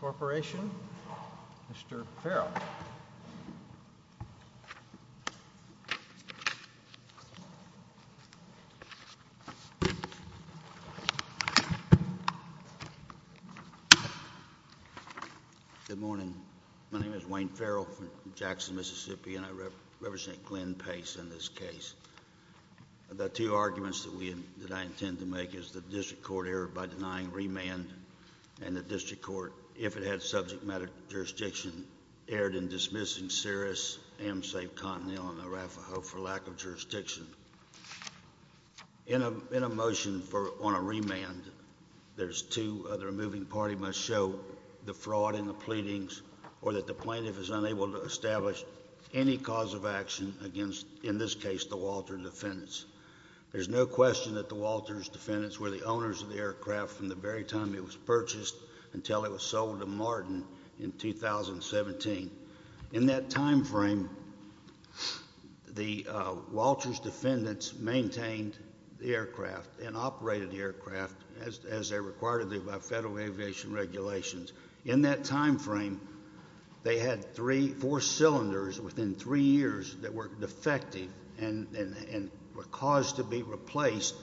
Corporation. Mr Farrell. Good morning. My name is Wayne Farrell from Jackson, Mississippi, and I represent Glenn Pace in this case. The two arguments that we that I intend to make is the district court error by if it had subject matter jurisdiction erred in dismissing Cirrus, AMSAFE, Continental, and Arafaho for lack of jurisdiction. In a motion for on a remand, there's two other moving party must show the fraud in the pleadings or that the plaintiff is unable to establish any cause of action against, in this case, the Walter defendants. There's no question that the Walters defendants were the owners of the aircraft from the very time it was purchased until it was sold to Martin in 2017. In that time frame, the Walters defendants maintained the aircraft and operated aircraft as they're required to do by federal aviation regulations. In that time frame, they had three, four cylinders within three years that were defective and were caused to be replaced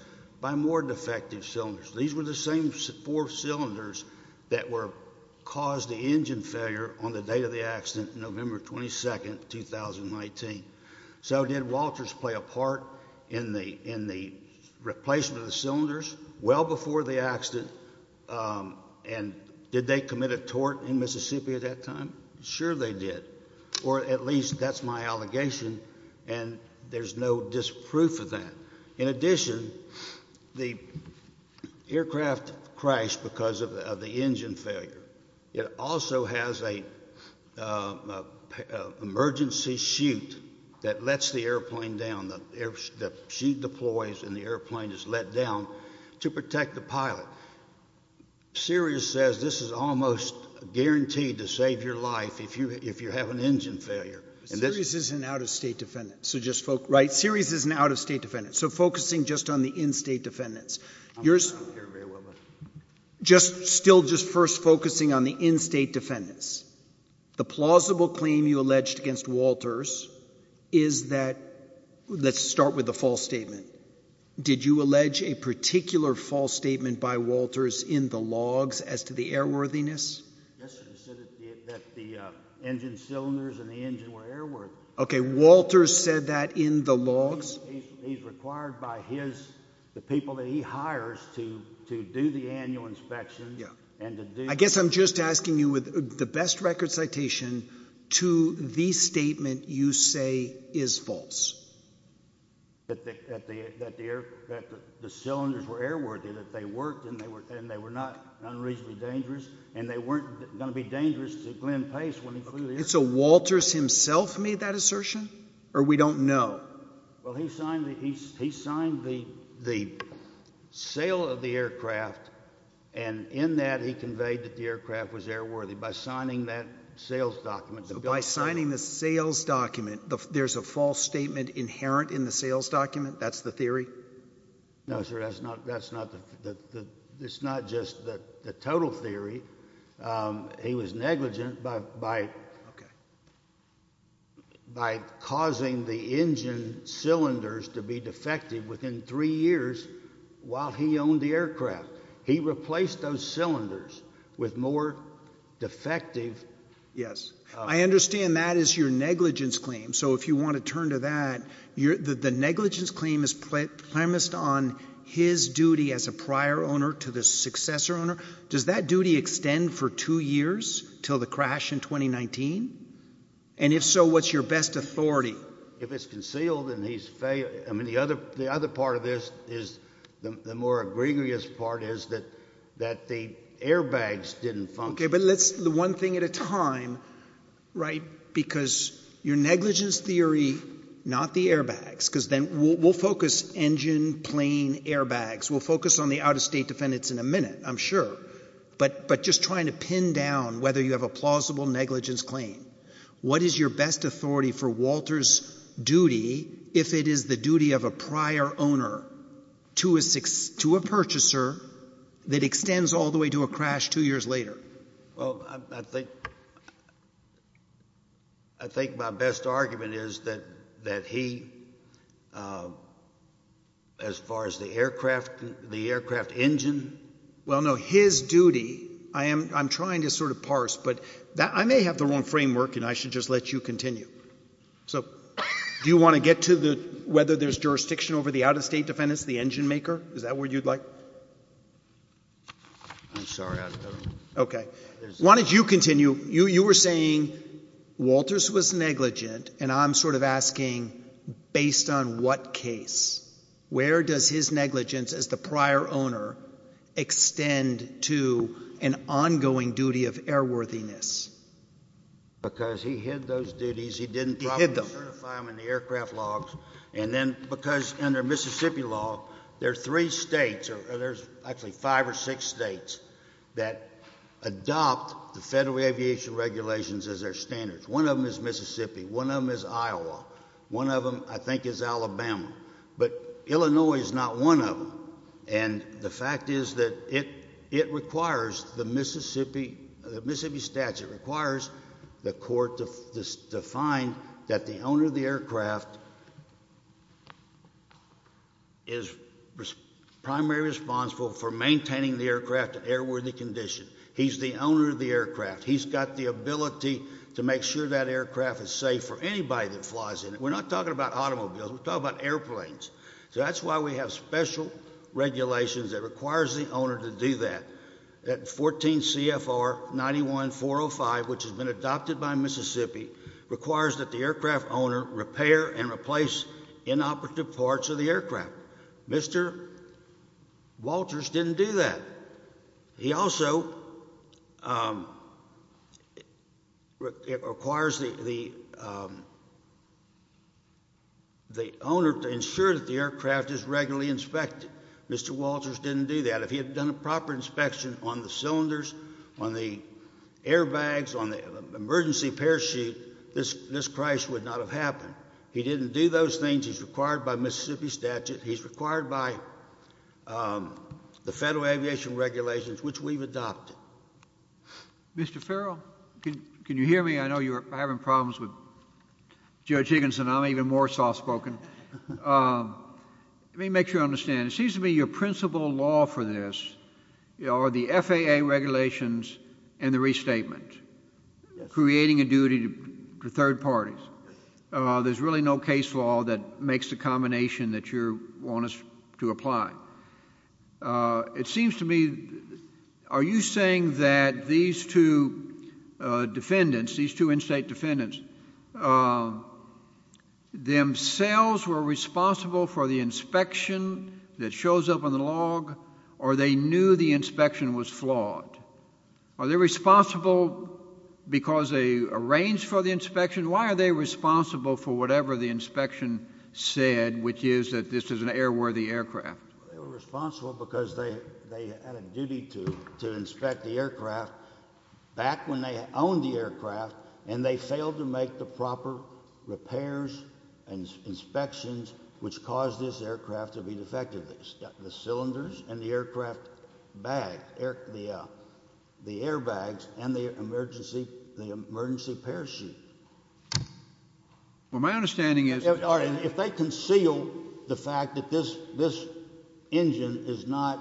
by more defective cylinders. These were the same four cylinders that were caused the engine failure on the date of the accident, November 22nd, 2019. So did Walters play a part in the in the replacement of the cylinders well before the accident? Um, and did they commit a tort in Mississippi at that time? Sure, they did. Or at least that's my allegation, and there's no disproof of that. In addition, the aircraft crashed because of the engine failure. It also has a, uh, emergency chute that lets the airplane down. The chute deploys and the airplane is let down to protect the pilot. Sirius says this is almost guaranteed to save your life if you if you have an engine failure. Sirius is an out of state defendant. So just focus, right? Sirius is an out of state defendant. So focusing just on the in state defendants, you're just still just first focusing on the in state defendants. The plausible claim you alleged against Walters is that let's start with the false statement. Did you allege a particular false statement by Walters in the logs as to the air worthiness? Yesterday said that the engine cylinders in the engine were air worth. Okay. Walters said that in the required by his the people that he hires to do the annual inspection. I guess I'm just asking you with the best record citation to the statement you say is false. That the that the that the air that the cylinders were air worthy that they worked and they were and they were not unreasonably dangerous, and they weren't going to be dangerous to Glenn Pace when he flew. It's a Walters himself made that assertion, or we don't know. Well, he signed the he he signed the the sale of the aircraft, and in that he conveyed that the aircraft was air worthy by signing that sales documents by signing the sales document. There's a false statement inherent in the sales document. That's the theory. No, sir, that's not. That's not the it's not just that the total theory. Um, he was negligent, but by by causing the engine cylinders to be defective within three years while he owned the aircraft, he replaced those cylinders with more defective. Yes, I understand that is your negligence claim. So if you want to turn to that you're the negligence claim is placed on his duty as a prior owner to the successor owner. Does that duty extend for two years till the crash in 2019? And if so, what's your best authority? If it's concealed and he's fail? I mean, the other the other part of this is the more egregious part is that that the airbags didn't function. But let's the one thing at a time, right? Because you're negligence theory, not the airbags, because then we'll focus engine plane airbags. We'll focus on the out of state defendants in a minute, I'm sure. But but just trying to pin down whether you have a plausible negligence claim. What is your best authority for Walter's duty? If it is the duty of a prior owner to a six to a purchaser that extends all the way to a crash two years later? Well, I think I think my best argument is that that he, as far as the aircraft, the aircraft engine. Well, no, his duty. I am. I'm trying to sort of parse, but that I may have the wrong framework and I should just let you continue. So do you want to get to the whether there's jurisdiction over the out of state defendants, the you were saying Walter's was negligent. And I'm sort of asking, based on what case, where does his negligence as the prior owner extend to an ongoing duty of airworthiness? Because he had those duties, he didn't hit them in the aircraft logs. And then because under Mississippi law, there's three states or there's actually five or six states that adopt the federal aviation regulations as their standards. One of them is Mississippi. One of them is Iowa. One of them, I think, is Alabama. But Illinois is not one of them. And the fact is that it it requires the Mississippi, the Mississippi statute requires the court to find that the owner of the aircraft is primarily responsible for maintaining the aircraft airworthy condition. He's the owner of the aircraft. He's got the ability to make sure that aircraft is safe for anybody that flies in it. We're not talking about automobiles. We're talking about airplanes. So that's why we have special regulations that requires the 405, which has been adopted by Mississippi, requires that the aircraft owner repair and replace inoperative parts of the aircraft. Mr. Walters didn't do that. He also um it requires the um the owner to ensure that the aircraft is regularly inspected. Mr. Walters didn't do that. If he had done a airbags on the emergency parachute, this this Christ would not have happened. He didn't do those things. He's required by Mississippi statute. He's required by um the federal aviation regulations, which we've adopted. Mr Farrell, can you hear me? I know you're having problems with Judge Higginson. I'm even more soft spoken. Um, let me make sure I understand. It the F. A. A. Regulations and the restatement creating a duty to third parties. Uh, there's really no case law that makes the combination that you want us to apply. Uh, it seems to me, are you saying that these two defendants, these two in state defendants, uh, themselves were responsible for the inspection that shows up on the log or they knew the action was flawed? Are they responsible because they arranged for the inspection? Why are they responsible for whatever the inspection said, which is that this is an airworthy aircraft responsible because they had a duty to inspect the aircraft back when they owned the aircraft and they failed to make the proper repairs and inspections which caused this aircraft bag, the airbags and the emergency, the emergency parachute. Well, my understanding is if they conceal the fact that this this engine is not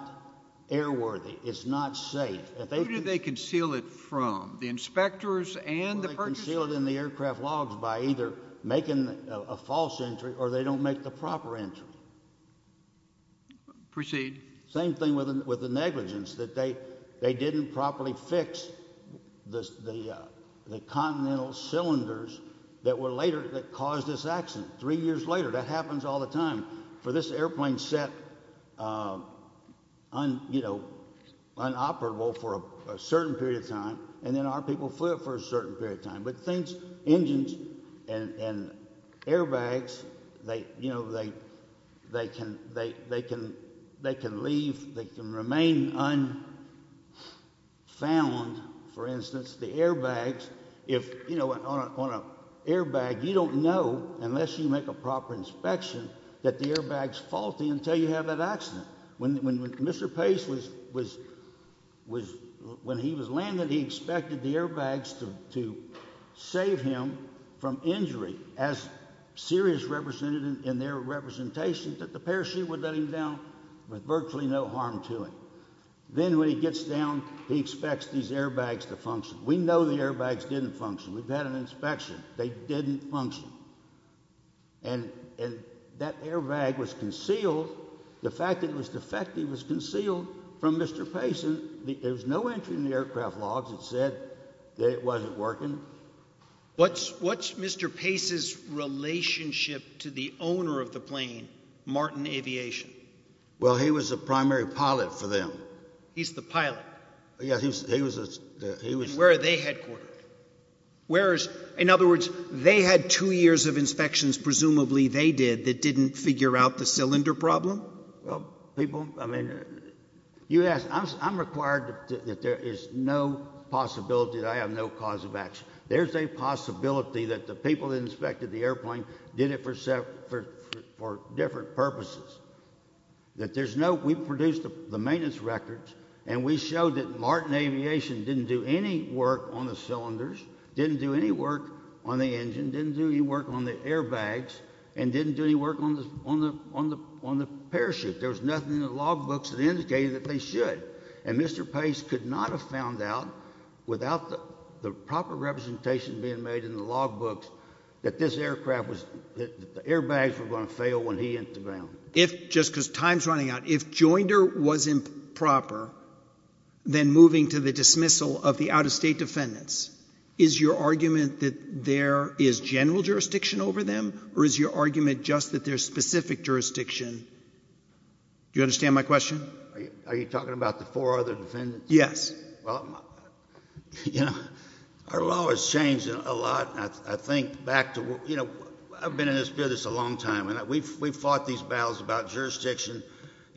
airworthy, it's not safe. If they do, they conceal it from the inspectors and the concealed in the aircraft logs by either making a false entry or they don't make the proper entry. Proceed. Same thing with with the negligence that they they didn't properly fix the continental cylinders that were later that caused this accident. Three years later, that happens all the time for this airplane set, uh, on, you know, unoperable for a certain period of time. And then our people flip for a certain period of time. But things, engines and airbags, they, you know, they, they can, they can, they can leave. They can remain unfound. For instance, the airbags, if you know, on an airbag, you don't know unless you make a proper inspection that the airbags faulty until you have that accident. When Mr Pace was was when he was landed, he expected the representatives in their representation that the parachute would let him down with virtually no harm to him. Then when he gets down, he expects these airbags to function. We know the airbags didn't function. We've had an inspection. They didn't function. And that airbag was concealed. The fact that it was defective was concealed from Mr Pace. There was no entry in the aircraft logs. It said that it wasn't working. What's what's Mr Pace's relationship to the owner of the plane Martin Aviation? Well, he was a primary pilot for them. He's the pilot. Yeah, he was, he was, he was where they headquartered. Where is, in other words, they had two years of inspections. Presumably they did that didn't figure out the cylinder problem. Well, people, I mean, you asked, I'm required that there is no possibility that I have no cause of action. There's a possibility that the people that inspected the airplane did it for for different purposes that there's no, we produced the maintenance records and we showed that Martin Aviation didn't do any work on the cylinders, didn't do any work on the engine, didn't do any work on the airbags and didn't do any work on the on the on the on the parachute. There was nothing in the log books that indicated that they should. And Mr Pace could not have found out without the proper representation being made in the log books that this aircraft was that the airbags were going to fail when he hit the ground. If, just because time's running out, if Joinder was improper, then moving to the dismissal of the out of state defendants, is your argument that there is general jurisdiction over them? Or is your argument just that there's specific jurisdiction? Do you understand my question? Are you talking about the four other defendants? Yes. Well, you know, our law has changed a lot. I think back to, you know, I've been in this business a long time and we've we've fought these battles about jurisdiction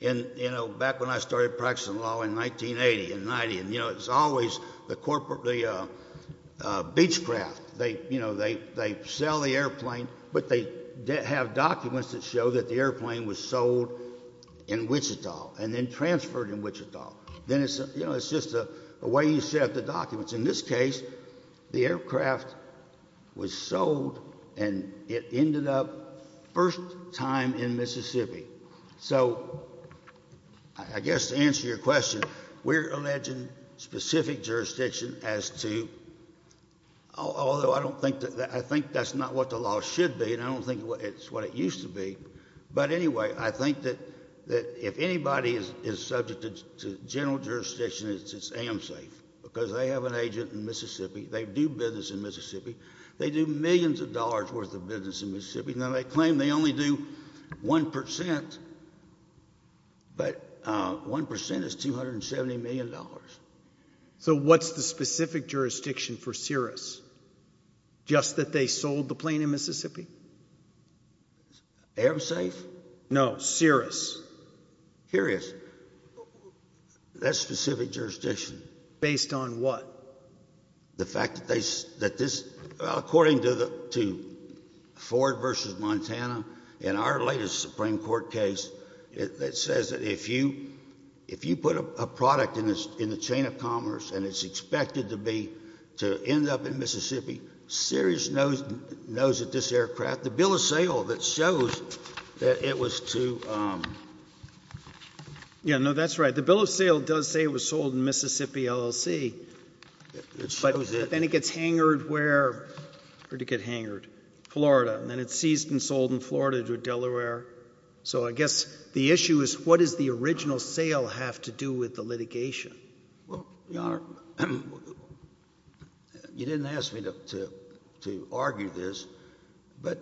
and, you know, back when I started practicing law in 1980 and 90 and, you know, it's always the corporate, the Beechcraft, they, you know, they they sell the airplane but they have documents that show that the airplane was sold in Wichita and then transferred in Wichita. Then it's, you know, it's just a way you set up the documents. In this case, the aircraft was sold and it ended up first time in Mississippi. So, I guess to answer your question, we're alleging specific jurisdiction as to, although I don't think that, I think that's not what the law should be and I don't think it's what it used to be, but anyway, I think that that if anybody is is subject to general jurisdiction, it's amsafe because they have an agent in Mississippi. They do business in Mississippi. They do millions of dollars worth of business in Mississippi. Now, they claim they only do 1%, but 1% is 270 million dollars. So, what's the specific jurisdiction for Cirrus? Just that they sold the plane in Amsafe? No, Cirrus. Here it is. That's specific jurisdiction. Based on what? The fact that they, that this, according to the, to Ford versus Montana, in our latest Supreme Court case, it says that if you, if you put a product in this, in the chain of commerce and it's expected to be, to end up in Mississippi, Cirrus knows, knows that this aircraft, the bill of sale that shows that it was to... Yeah, no, that's right. The bill of sale does say it was sold in Mississippi LLC, but then it gets hangered where? Where did it get hangered? Florida, and then it's seized and sold in Florida to Delaware. So, I guess the issue is what does the original sale have to do with the litigation? Well, Your Honor, you didn't ask me to, to argue this, but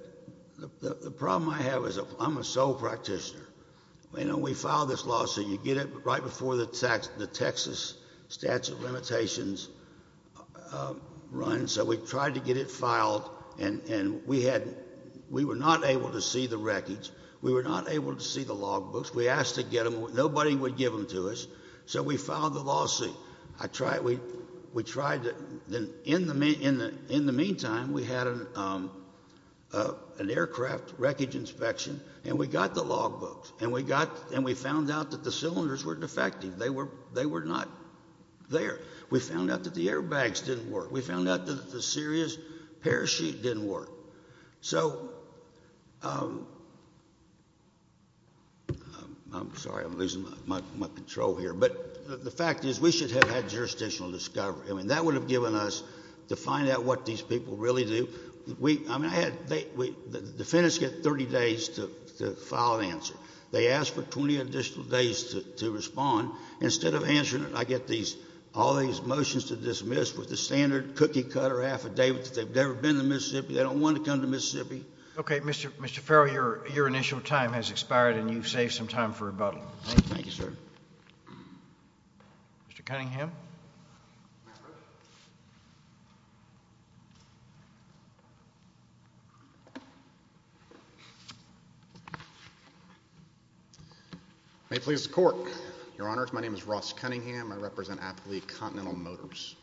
the problem I have is I'm a sole practitioner. You know, we filed this lawsuit, you get it right before the Texas statute of limitations runs. So, we tried to get it filed and, and we had, we were not able to see the records. We were not able to see the logbooks. We asked to get them. Nobody would give them to us. So, we filed the lawsuit. I tried, we, we tried to, then in the, in the, in the meantime, we had an, an aircraft wreckage inspection and we got the logbooks and we got, and we found out that the cylinders were defective. They were, they were not there. We found out that the airbags didn't work. We found out that the series parachute didn't work. So, I'm sorry, I'm losing my, my control here, but the fact is we should have had jurisdictional discovery. I mean, that would have given us to find out what these people really do. We, I mean, I had, they, we, the defendants get 30 days to, to file an answer. They ask for 20 additional days to, to respond. Instead of answering it, I get these, all these motions to dismiss with the standard cookie cutter affidavit that they've never been to Mississippi. They don't want to come to Mississippi. Okay. Mr. Mr. Farrell, your, your initial time has expired and you've saved some time for rebuttal. Thank you, sir. Mr. Cunningham. May it please the court. Your honors, my name is Ross Cunningham. I represent Appalachian Continental Motors.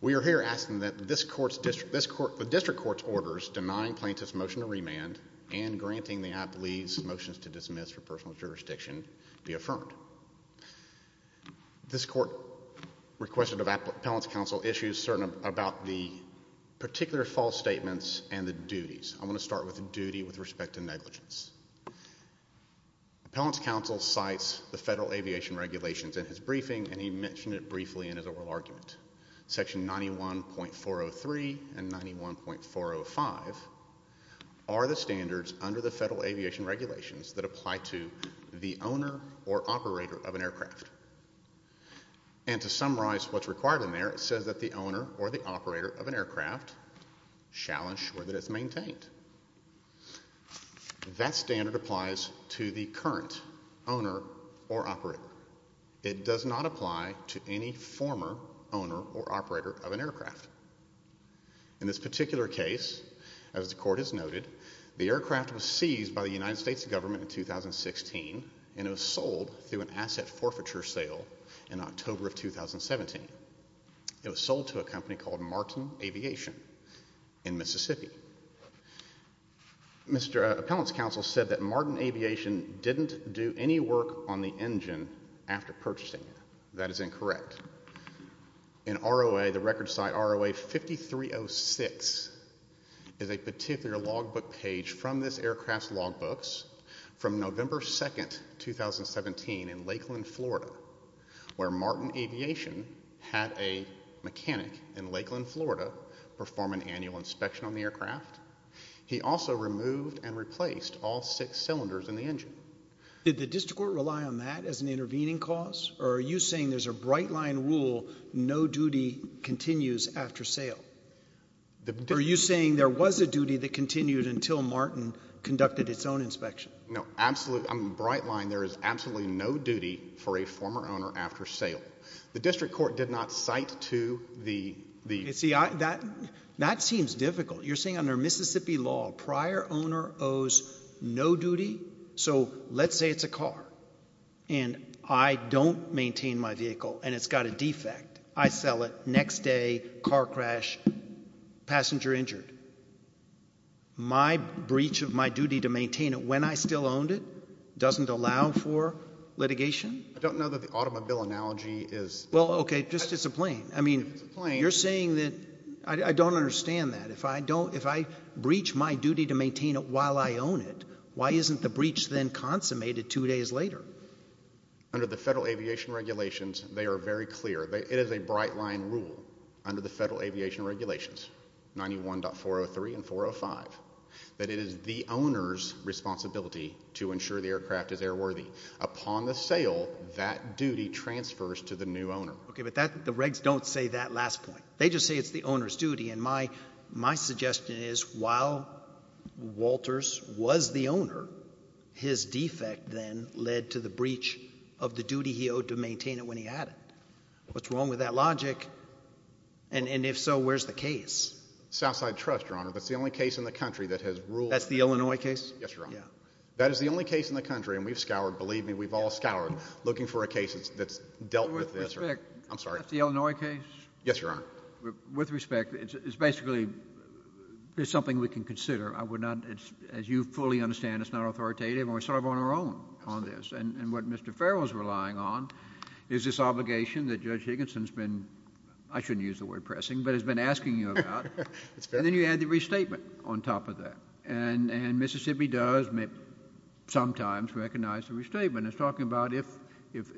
We are here asking that this court's district, this court, the district court's orders denying plaintiff's motion to remand and granting the Appalachian's motions to dismiss for personal jurisdiction be affirmed. This court requested of Appellant's counsel issues certain about the particular false statements and the duties. I'm going to start with the duty with respect to negligence. Appellant's counsel cites the federal aviation regulations in his briefing and he mentioned it briefly in his oral argument. Section 91.403 and 91.405 are the standards under the federal aviation regulations that apply to the owner or operator of an aircraft. And to summarize what's required in there, it says that the owner or the operator of an aircraft shall ensure that it's maintained. That standard applies to the current owner or it does not apply to any former owner or operator of an aircraft. In this particular case, as the court has noted, the aircraft was seized by the United States government in 2016 and it was sold through an asset forfeiture sale in October of 2017. It was sold to a company called Martin Aviation in Mississippi. Mr. Appellant's counsel said that Martin Aviation didn't do any work on the engine after purchasing it. That is incorrect. In ROA, the record site ROA 5306 is a particular logbook page from this aircraft's logbooks from November 2nd, 2017 in Lakeland, Florida, where Martin Aviation had a mechanic in Lakeland, Florida, perform an annual inspection on the aircraft. He also removed and replaced all six cylinders in the engine. Did the district court rely on that as an intervening cause? Or are you saying there's a bright line rule, no duty continues after sale? Are you saying there was a duty that continued until Martin conducted its own inspection? No, absolutely. I'm bright line. There is absolutely no duty for a former owner after sale. The district court did not cite to the... See, that seems difficult. You're saying under Mississippi law, prior owner owes no duty? So let's say it's a car, and I don't maintain my vehicle, and it's got a defect. I sell it. Next day, car crash, passenger injured. My breach of my duty to maintain it when I still owned it doesn't allow for litigation? I don't know that the automobile analogy is... Well, okay, just it's a plane. I mean, you're saying that... I don't understand that. If I breach my duty to maintain it while I own it, why isn't the breach then consummated two days later? Under the Federal Aviation Regulations, they are very clear. It is a bright line rule under the Federal Aviation Regulations, 91.403 and 405, that it is the owner's responsibility to ensure the aircraft is airworthy. Upon the sale, that duty transfers to the new owner. Okay, but the regs don't say that last point. They just say it's the owner's responsibility. My suggestion is, while Walters was the owner, his defect then led to the breach of the duty he owed to maintain it when he had it. What's wrong with that logic? And if so, where's the case? Southside Trust, Your Honor. That's the only case in the country that has ruled... That's the Illinois case? Yes, Your Honor. That is the only case in the country, and we've scoured, believe me, we've all scoured, looking for a case that's dealt with this... With respect... I'm basically, there's something we can consider. I would not, as you fully understand, it's not authoritative, and we're sort of on our own on this, and what Mr. Farrell is relying on is this obligation that Judge Higginson's been, I shouldn't use the word pressing, but has been asking you about, and then you add the restatement on top of that. And Mississippi does sometimes recognize the restatement. It's talking about if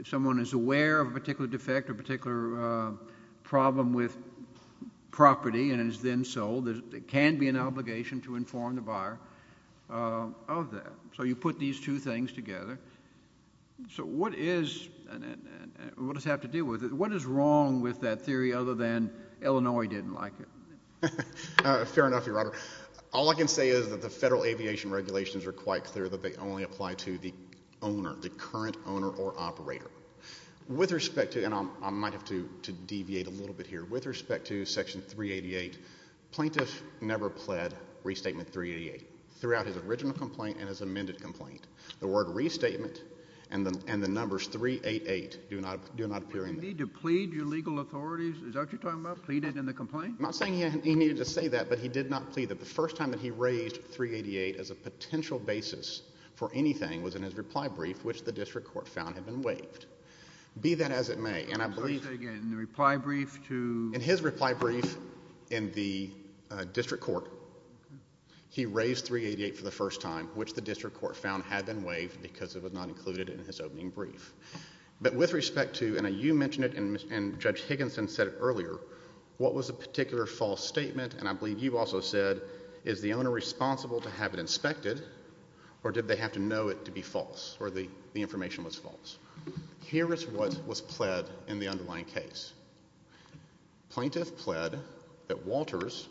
someone is aware of a then sold, there can be an obligation to inform the buyer of that. So you put these two things together. So what is, and what does it have to do with it, what is wrong with that theory other than Illinois didn't like it? Fair enough, Your Honor. All I can say is that the federal aviation regulations are quite clear that they only apply to the owner, the current owner or operator. With respect to, and I might have to deviate a little bit here, with respect to Section 388, plaintiff never pled restatement 388 throughout his original complaint and his amended complaint. The word restatement and the numbers 388 do not appear in there. You need to plead your legal authorities, is that what you're talking about, plead it in the complaint? I'm not saying he needed to say that, but he did not plead it. The first time that he raised 388 as a potential basis for anything was in his reply brief, which the district court found had been waived. Be that as it may, and I did his reply brief in the district court. He raised 388 for the first time, which the district court found had been waived because it was not included in his opening brief. But with respect to, and you mentioned it and Judge Higginson said it earlier, what was a particular false statement, and I believe you also said, is the owner responsible to have it inspected or did they have to know it to be false or the information was false? Here is what was pled in the plaintiff pled that Walters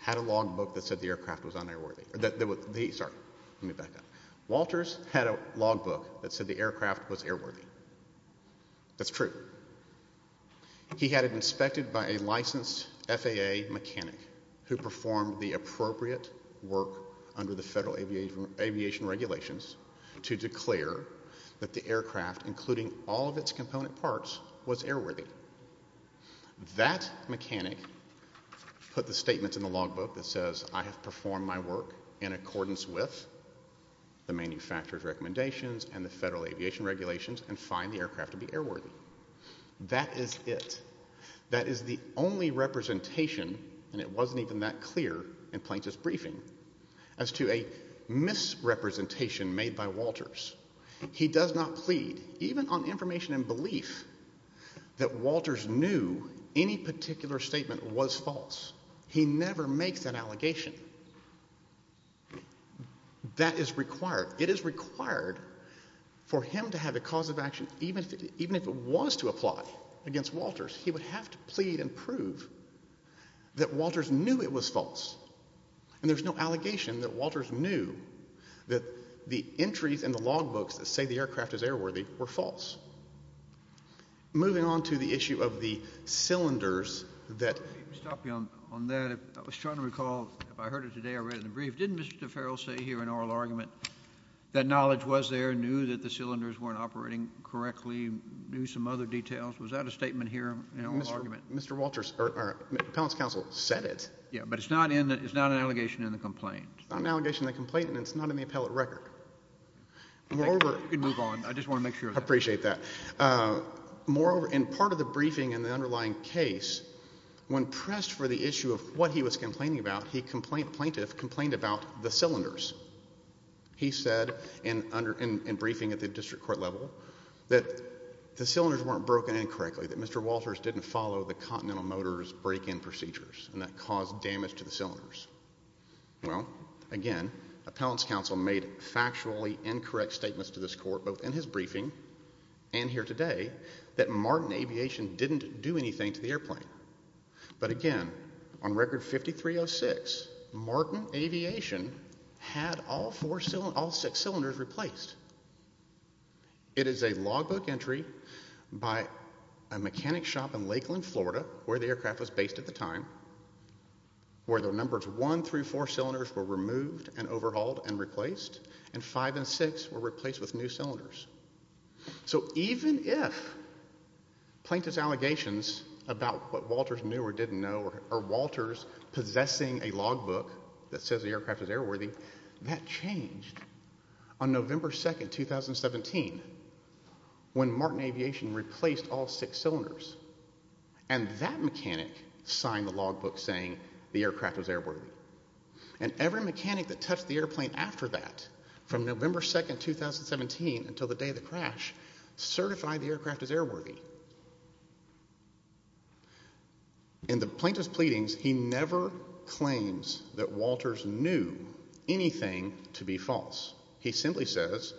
had a log book that said the aircraft was un-airworthy. Sorry, let me back up. Walters had a log book that said the aircraft was airworthy. That's true. He had it inspected by a licensed FAA mechanic who performed the appropriate work under the federal aviation regulations to declare that the aircraft, including all of its component parts, was un-airworthy. That mechanic put the statement in the log book that says I have performed my work in accordance with the manufacturer's recommendations and the federal aviation regulations and find the aircraft to be airworthy. That is it. That is the only representation, and it wasn't even that clear in Plaintiff's briefing, as to a misrepresentation made by Walters. He does not plead, even on any particular statement, was false. He never makes an allegation. That is required. It is required for him to have a cause of action, even if it was to apply against Walters. He would have to plead and prove that Walters knew it was false, and there's no allegation that Walters knew that the entries in the log books that say the aircraft is airworthy were false. Moving on to the issue of the cylinders that... Let me stop you on that. I was trying to recall, if I heard it today or read it in the brief, didn't Mr. Farrell say here in oral argument that knowledge was there, knew that the cylinders weren't operating correctly, knew some other details? Was that a statement here in oral argument? Mr. Walters, or Appellant's counsel, said it. Yeah, but it's not in, it's not an allegation in the complaint. It's not an allegation in the complaint, and it's not in the appellate record. Moreover... You can move on. I just want to make sure. I appreciate that. Moreover, in part of the briefing in the underlying case, when pressed for the issue of what he was complaining about, he complained, plaintiff, complained about the cylinders. He said in briefing at the district court level that the cylinders weren't broken incorrectly, that Mr. Walters didn't follow the Continental Motors break-in procedures, and that caused damage to the cylinders. Well, again, Appellant's counsel made factually incorrect statements to this court, both in his briefing and here today, that Martin Aviation didn't do anything to the airplane. But again, on Record 5306, Martin Aviation had all six cylinders replaced. It is a logbook entry by a mechanic shop in Lakeland, Florida, where the aircraft was based at the time, where the numbers one through four cylinders were removed and six were replaced with new cylinders. So even if plaintiff's allegations about what Walters knew or didn't know, or Walters possessing a logbook that says the aircraft is airworthy, that changed on November 2nd, 2017, when Martin Aviation replaced all six cylinders. And that mechanic signed the logbook saying the aircraft was airworthy. And every mechanic that touched the airplane after that, from November 2nd, 2017 until the day of the crash, certified the aircraft as airworthy. In the plaintiff's pleadings, he never claims that Walters knew anything to be false. He simply says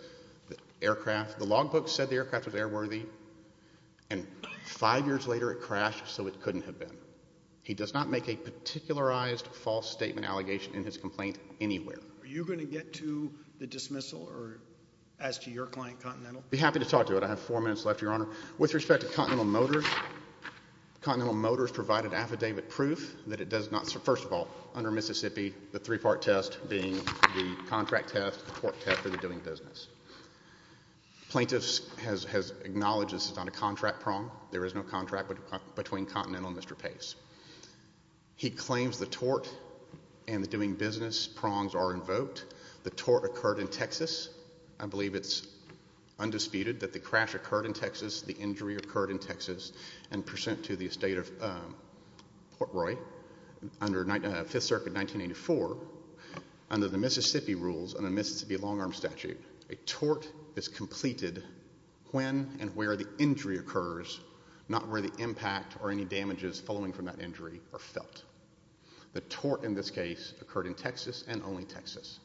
the aircraft, the logbook said the aircraft was airworthy, and five years later it crashed so it couldn't have been. He does not make a particularized false statement allegation in his complaint anywhere. Are you going to get to the dismissal or ask your client, Continental? I'd be happy to talk to it. I have four minutes left, Your Honor. With respect to Continental Motors, Continental Motors provided affidavit proof that it does not, first of all, under Mississippi, the three-part test being the contract test, the tort test, or the doing business. Plaintiff's has acknowledged this is not a contract problem. There is no contract between Continental and Mr. Pace. He claims the tort and the doing business prongs are invoked. The tort occurred in Texas. I believe it's undisputed that the crash occurred in Texas, the injury occurred in Texas, and present to the estate of Port Roy, under Fifth Circuit 1984, under the Mississippi rules, under the Mississippi long-arm statute, a tort is completed when and where the injury occurs, not where the impact or any damages following from that injury are felt. The tort in this case occurred in Texas and only Texas.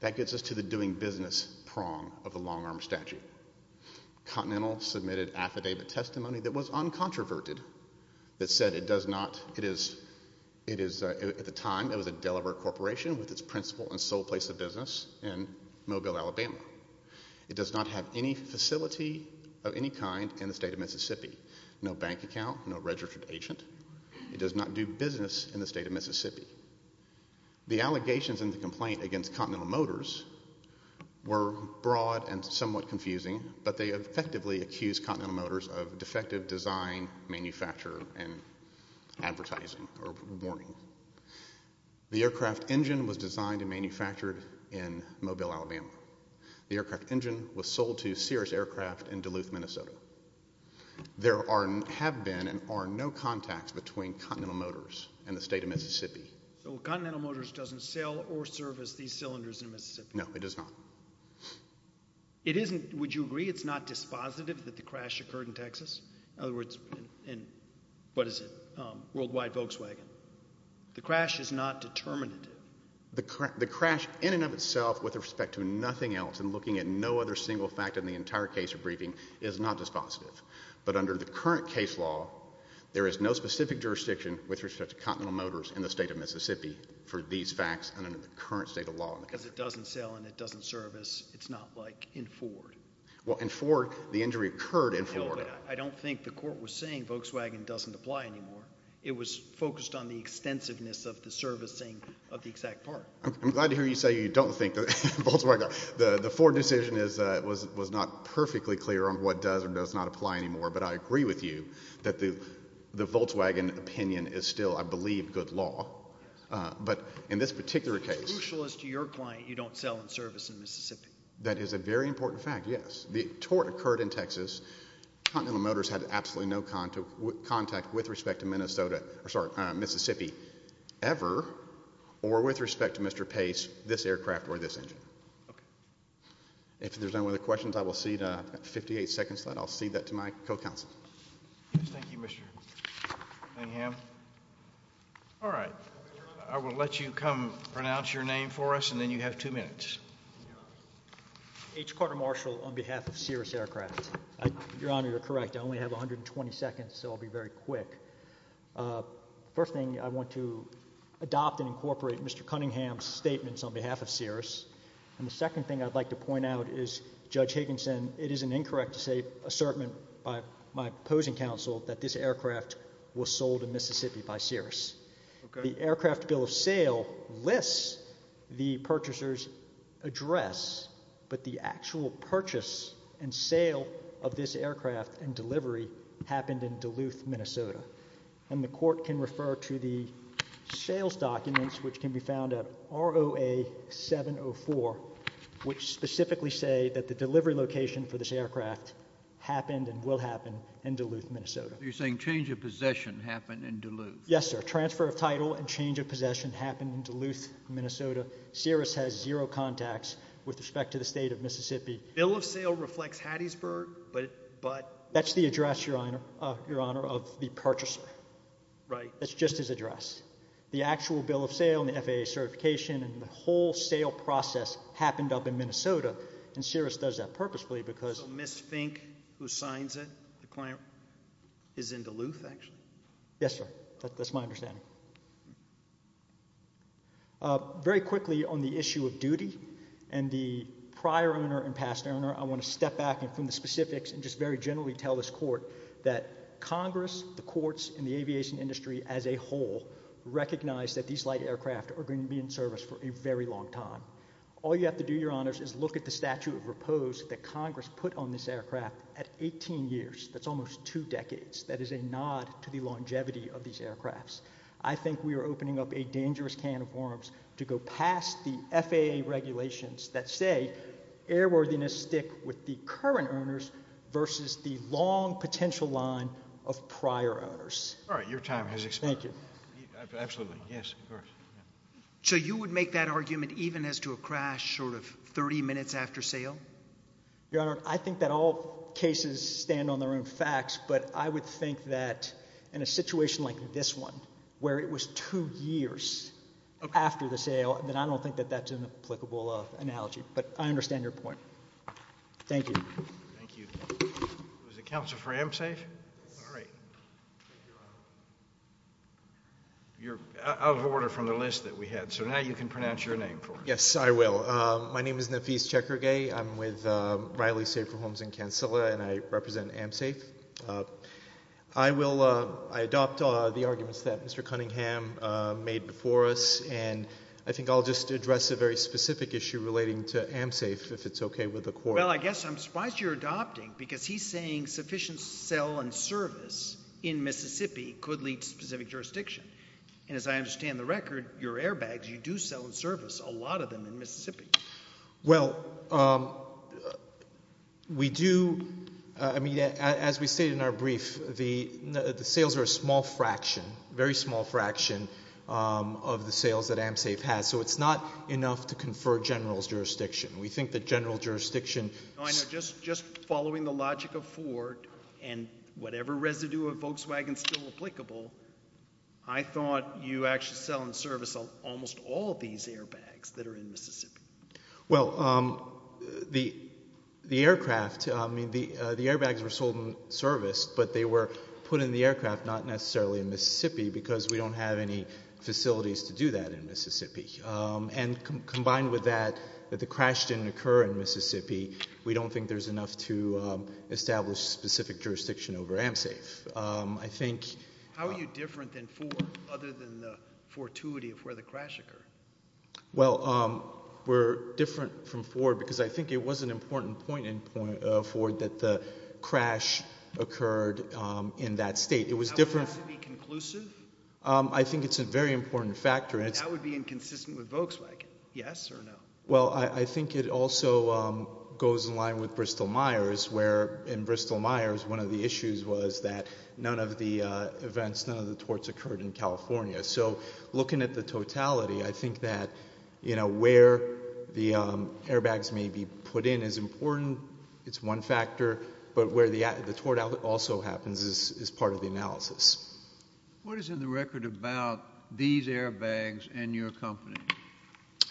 That gets us to the doing business prong of the long-arm statute. Continental submitted affidavit testimony that was uncontroverted, that said it does not, it is, it is, at the time it was a Delaware corporation with its principal and sole place of business in Mobile, Alabama. It does not have any facility of any kind in the state of Mississippi. No bank account, no registered agent. It does not do business in the state of Mississippi. The allegations in the complaint against Continental Motors were broad and somewhat confusing, but they effectively accused Continental Motors of defective design, manufacture, and advertising, or warning. The aircraft engine was designed and manufactured in Mobile, Alabama. The aircraft engine was and have been and are no contacts between Continental Motors and the state of Mississippi. So Continental Motors doesn't sell or service these cylinders in Mississippi? No, it does not. It isn't, would you agree it's not dispositive that the crash occurred in Texas? In other words, in what is it, worldwide Volkswagen? The crash is not determinative. The crash in and of itself with respect to nothing else and looking at no other single fact in the entire case or case law, there is no specific jurisdiction with respect to Continental Motors in the state of Mississippi for these facts and under the current state of law. Because it doesn't sell and it doesn't service, it's not like in Ford. Well in Ford, the injury occurred in Ford. No, but I don't think the court was saying Volkswagen doesn't apply anymore. It was focused on the extensiveness of the servicing of the exact part. I'm glad to hear you say you don't think that Volkswagen, the Ford decision was not perfectly clear on what does or does not apply anymore, but I agree with you that the Volkswagen opinion is still, I believe, good law. But in this particular case. It's crucial as to your client you don't sell and service in Mississippi. That is a very important fact, yes. The tort occurred in Texas. Continental Motors had absolutely no contact with respect to Minnesota, or sorry, Mississippi ever or with respect to Mr. Pace, this aircraft or this engine. If there's no other questions, I will cede 58 seconds, then I'll cede that to my co-counsel. Thank you, Mr. Cunningham. All right, I will let you come pronounce your name for us and then you have two minutes. H. Carter Marshall on behalf of Cirrus Aircraft. Your Honor, you're correct. I only have 120 seconds, so I'll be very quick. First thing, I want to adopt and incorporate Mr. Cunningham's statements on behalf of Judge Higginson. It is an incorrect assertment by my opposing counsel that this aircraft was sold in Mississippi by Cirrus. The aircraft bill of sale lists the purchaser's address, but the actual purchase and sale of this aircraft and delivery happened in Duluth, Minnesota. And the court can refer to the sales documents, which can be found at ROA 704, which specifically say that the delivery location for this aircraft happened and will happen in Duluth, Minnesota. You're saying change of possession happened in Duluth? Yes, sir. Transfer of title and change of possession happened in Duluth, Minnesota. Cirrus has zero contacts with respect to the state of Mississippi. Bill of sale reflects Hattiesburg, but... That's the address, Your Honor, of the purchaser. Right. That's just his address. The actual bill of sale and the FAA certification and the whole sale process happened up in Minnesota, and Cirrus does that purposefully because... So Ms. Fink, who signs it, the client, is in Duluth, actually? Yes, sir. That's my understanding. Very quickly on the issue of duty and the prior owner and past owner, I want to step back and from the specifics and just very generally tell this court that Congress, the courts, and the aviation industry as a whole recognize that these light aircraft are going to be in service for a very long time. All you have to do, Your Honors, is look at the statute of repose that Congress put on this aircraft at 18 years. That's almost two decades. That is a nod to the longevity of these aircrafts. I think we are opening up a dangerous can of worms to go past the FAA regulations that say airworthiness stick with the current owners versus the long potential line of prior owners. All right. Your time has expired. Thank you. Absolutely. Yes. So you would make that argument even as to a crash short of 30 minutes after sale? Your Honor, I think that all cases stand on their own facts, but I would think that in a situation like this one, where it was two years after the sale, that I don't think that that's an applicable analogy, but I understand your point. Thank you. Thank you. Was the counsel for AMSAFE? All right. You're out of order from the list that we had, so now you can pronounce your name for us. Yes, I will. My name is Nafis Chekhergei. I'm with Riley Safer Homes in Kansala, and I represent AMSAFE. I adopt the arguments that Mr. Cunningham made before us, and I think I'll just address a very specific issue relating to AMSAFE, if it's okay with the Court. Well, I guess I'm surprised you're saying sufficient sell and service in Mississippi could lead to specific jurisdiction, and as I understand the record, your airbags, you do sell and service a lot of them in Mississippi. Well, we do. I mean, as we stated in our brief, the sales are a small fraction, very small fraction, of the sales that AMSAFE has, so it's not enough to confer general's jurisdiction. We think that if you're selling a logic of Ford, and whatever residue of Volkswagen is still applicable, I thought you actually sell and service almost all of these airbags that are in Mississippi. Well, the aircraft, I mean, the airbags were sold and serviced, but they were put in the aircraft, not necessarily in Mississippi, because we don't have any facilities to do that in Mississippi. And combined with that, that the crash didn't occur in Mississippi, we don't think there's enough to establish specific jurisdiction over AMSAFE. I think... How are you different than Ford, other than the fortuity of where the crash occurred? Well, we're different from Ford because I think it was an important point in Ford that the crash occurred in that state. It was different... How would that be conclusive? I think it's a very important factor. That would be inconsistent with Volkswagen, yes or no? Well, I think it also goes in line with Bristol-Myers, where in Bristol-Myers, one of the issues was that none of the events, none of the torts occurred in California. So, looking at the totality, I think that where the airbags may be put in is important, it's one factor, but where the tort also happens is part of the analysis. What is in the record about these airbags and your company?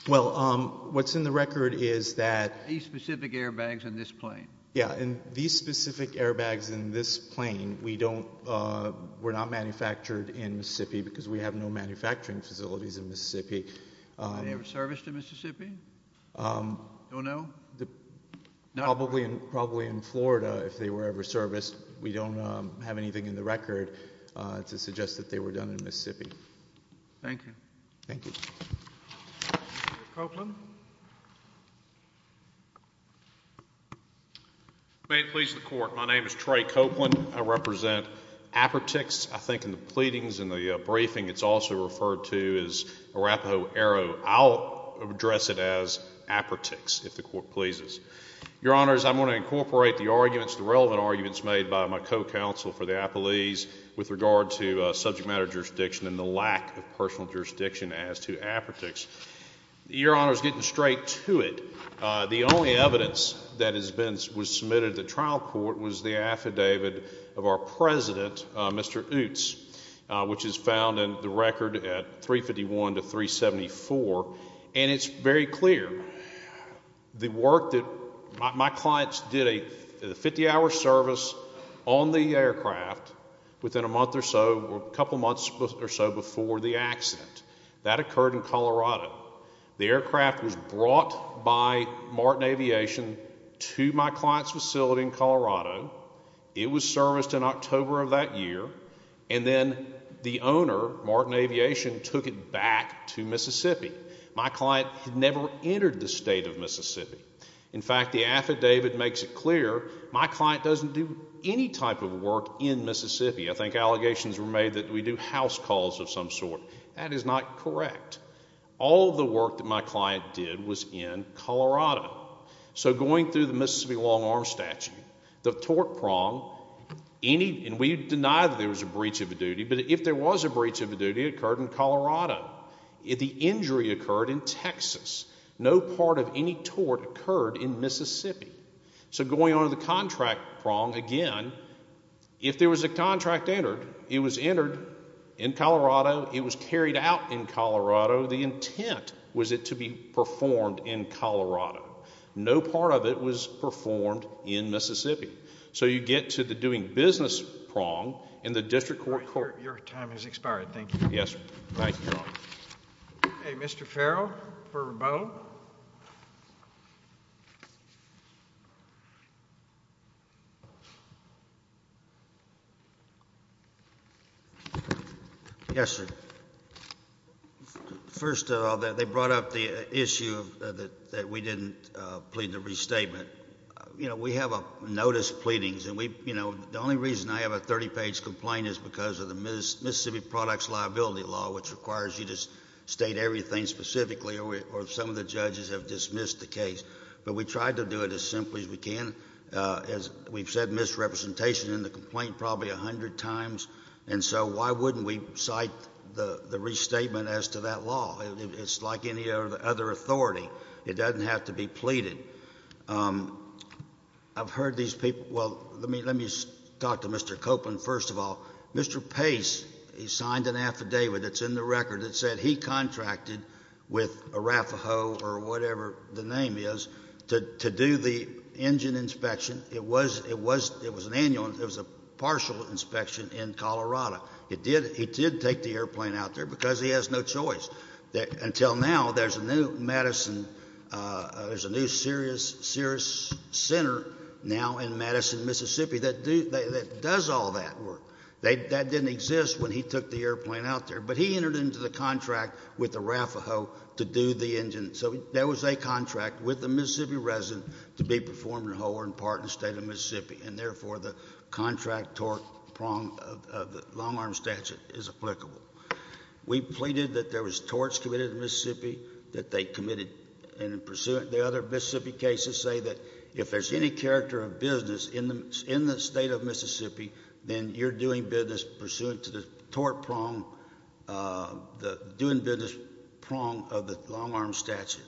Well, what's in the record is that... These specific airbags in this plane. Yeah, and these specific airbags in this plane were not manufactured in Mississippi because we have no manufacturing facilities in Mississippi. Were they ever serviced in Mississippi? Don't know? Probably in Florida, if they were ever serviced. We don't have anything in the record to suggest that they were done in Mississippi. Thank you. Thank you. Mr. Copeland? May it please the Court, my name is Trey Copeland. I represent Apertix, I think in the pleadings and the briefing it's also referred to as Arapaho Arrow. I'll address it as Apertix, if the Court pleases. Your Honors, I'm going to incorporate the arguments, the relevant arguments made by my co-counsel for the apologies with regard to subject matter jurisdiction and the lack of personal jurisdiction as to Apertix. Your Honors, getting straight to it, the only evidence that has been, was submitted to the trial court was the affidavit of our President, Mr. Oots, which is found in the record at 351 to 374. And it's very clear, the work that, my clients did a 50-hour service on the aircraft within a month or so, a couple months or so before the accident. That occurred in Colorado. The aircraft was brought by Martin Aviation to my client's facility in Colorado. It was serviced in October of that year, and then the owner, Martin Aviation, took it back to Mississippi. My client had never entered the state of Mississippi. In fact, the affidavit makes it clear, my client doesn't do any type of work in Mississippi. I think allegations were made that we do house calls of some sort. That is not correct. All the work that my client did was in Colorado. So going through the Mississippi long arm statute, the tort prong, and we deny that there was a breach of a duty, but if there was a breach of a duty, it occurred in Colorado. The injury occurred in Texas. No part of any tort occurred in Mississippi. So going on to the contract prong, again, if there was a contract entered, it was entered in Colorado. It was carried out in Colorado. The intent was it to be performed in Colorado. No part of it was performed in Mississippi. So you get to the doing business prong in the district court court. Your time has expired. Thank you. Yes, thank you, Your Honor. Okay, Mr. Farrell for rebuttal. Yes, sir. First of all, they brought up the issue that we didn't plead the restatement. We have notice pleadings, and the only reason I have a 30-page complaint is because of the Mississippi products liability law, which requires you to state everything specifically, or some of the judges have dismissed the case. But we tried to do it as simply as we can. We've said misrepresentation in the complaint probably 100 times, and so why wouldn't we cite the restatement as to that law? It's like any other authority. It doesn't have to be pleaded. I've heard these people – well, let me talk to Mr. Copeland first of all. Mr. Pace, he signed an affidavit that's in the record that said he contracted with Arafaho or whatever the name is to do the engine inspection. It was an annual. It was a partial inspection in Colorado. He did take the airplane out there because he has no choice. Until now, there's a new Madison – there's a new Cirrus Center now in Madison, Mississippi that does all that work. That didn't exist when he took the airplane out there. But he entered into the contract with Arafaho to do the engine. So there was a contract with a Mississippi resident to be performing a whole or in part in the state of Mississippi, and therefore the contract torque prong of the long-arm statute is applicable. We pleaded that there was torts committed in Mississippi that they committed in pursuant – the other Mississippi cases say that if there's any character of business in the state of Mississippi, then you're doing business pursuant to the torque prong, the doing business prong of the long-arm statute.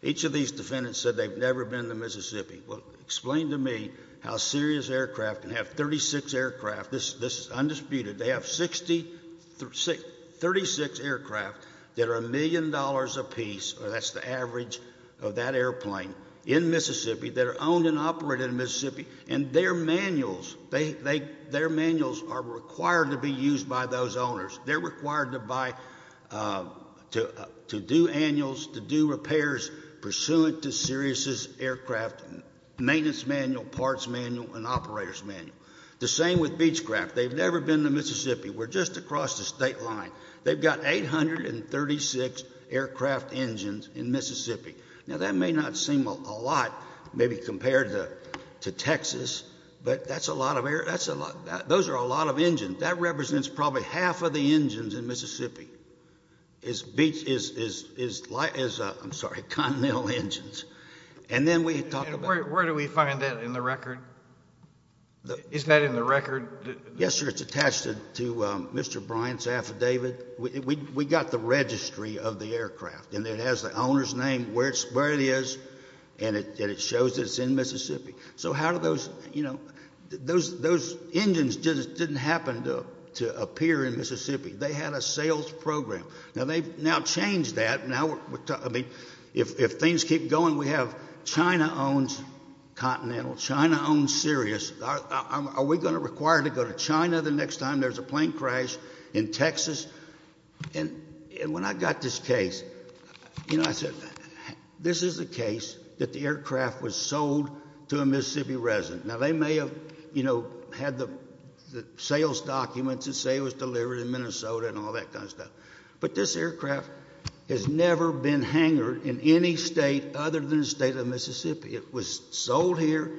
Each of these defendants said they've never been to Mississippi. Well, explain to me how a Cirrus aircraft can have 36 aircraft – this is undisputed – they have 36 aircraft that are a million dollars apiece, or that's the average of that airplane, in Mississippi, that are owned and operated in Mississippi, and their manuals are required to be used by those owners. They're required to buy – to do annuals, to do repairs pursuant to Cirrus's aircraft maintenance manual, parts manual, and operators manual. The same with Beechcraft. They've never been to Mississippi. We're just across the state line. They've got 836 aircraft engines in Mississippi. Now, that may not seem a lot, maybe compared to Texas, but that's a lot of – those are a lot of engines. That represents probably half of the engines in Mississippi is – I'm sorry, is continental engines. And then we talk about – Where do we find that in the record? Isn't that in the record? Yes, sir, it's attached to Mr. Bryant's affidavit. We got the registry of the aircraft, and it has the owner's name, where it is, and it shows that it's in Mississippi. So how do those – you know, those engines just didn't happen to appear in Mississippi. They had a sales program. Now, they've now changed that. If things keep going, we have China owns continental, China owns Sirius. Are we going to require to go to China the next time there's a plane crash in Texas? And when I got this case, you know, I said, this is the case that the aircraft was sold to a Mississippi resident. Now, they may have, you know, had the sales documents that say it was delivered in Minnesota and all that kind of stuff, but this aircraft has never been hangered in any state other than the state of Mississippi. It was sold here,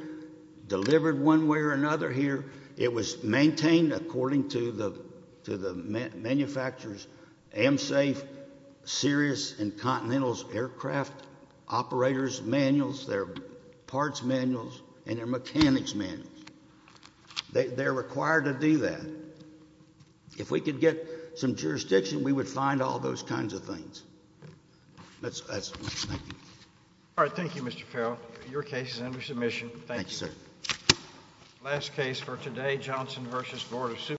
delivered one way or another here. It was maintained according to the manufacturer's AMSAFE, Sirius, and Continental's aircraft operator's manuals, their parts manuals, and their mechanics manuals. They're required to do that. If we could get some jurisdiction, we would find all those kinds of things. That's all. Thank you. All right. Thank you, Mr. Carroll. Your case is under submission. Thank you. Thank you, sir. Last case for today, Johnson v. Board of Supervisors.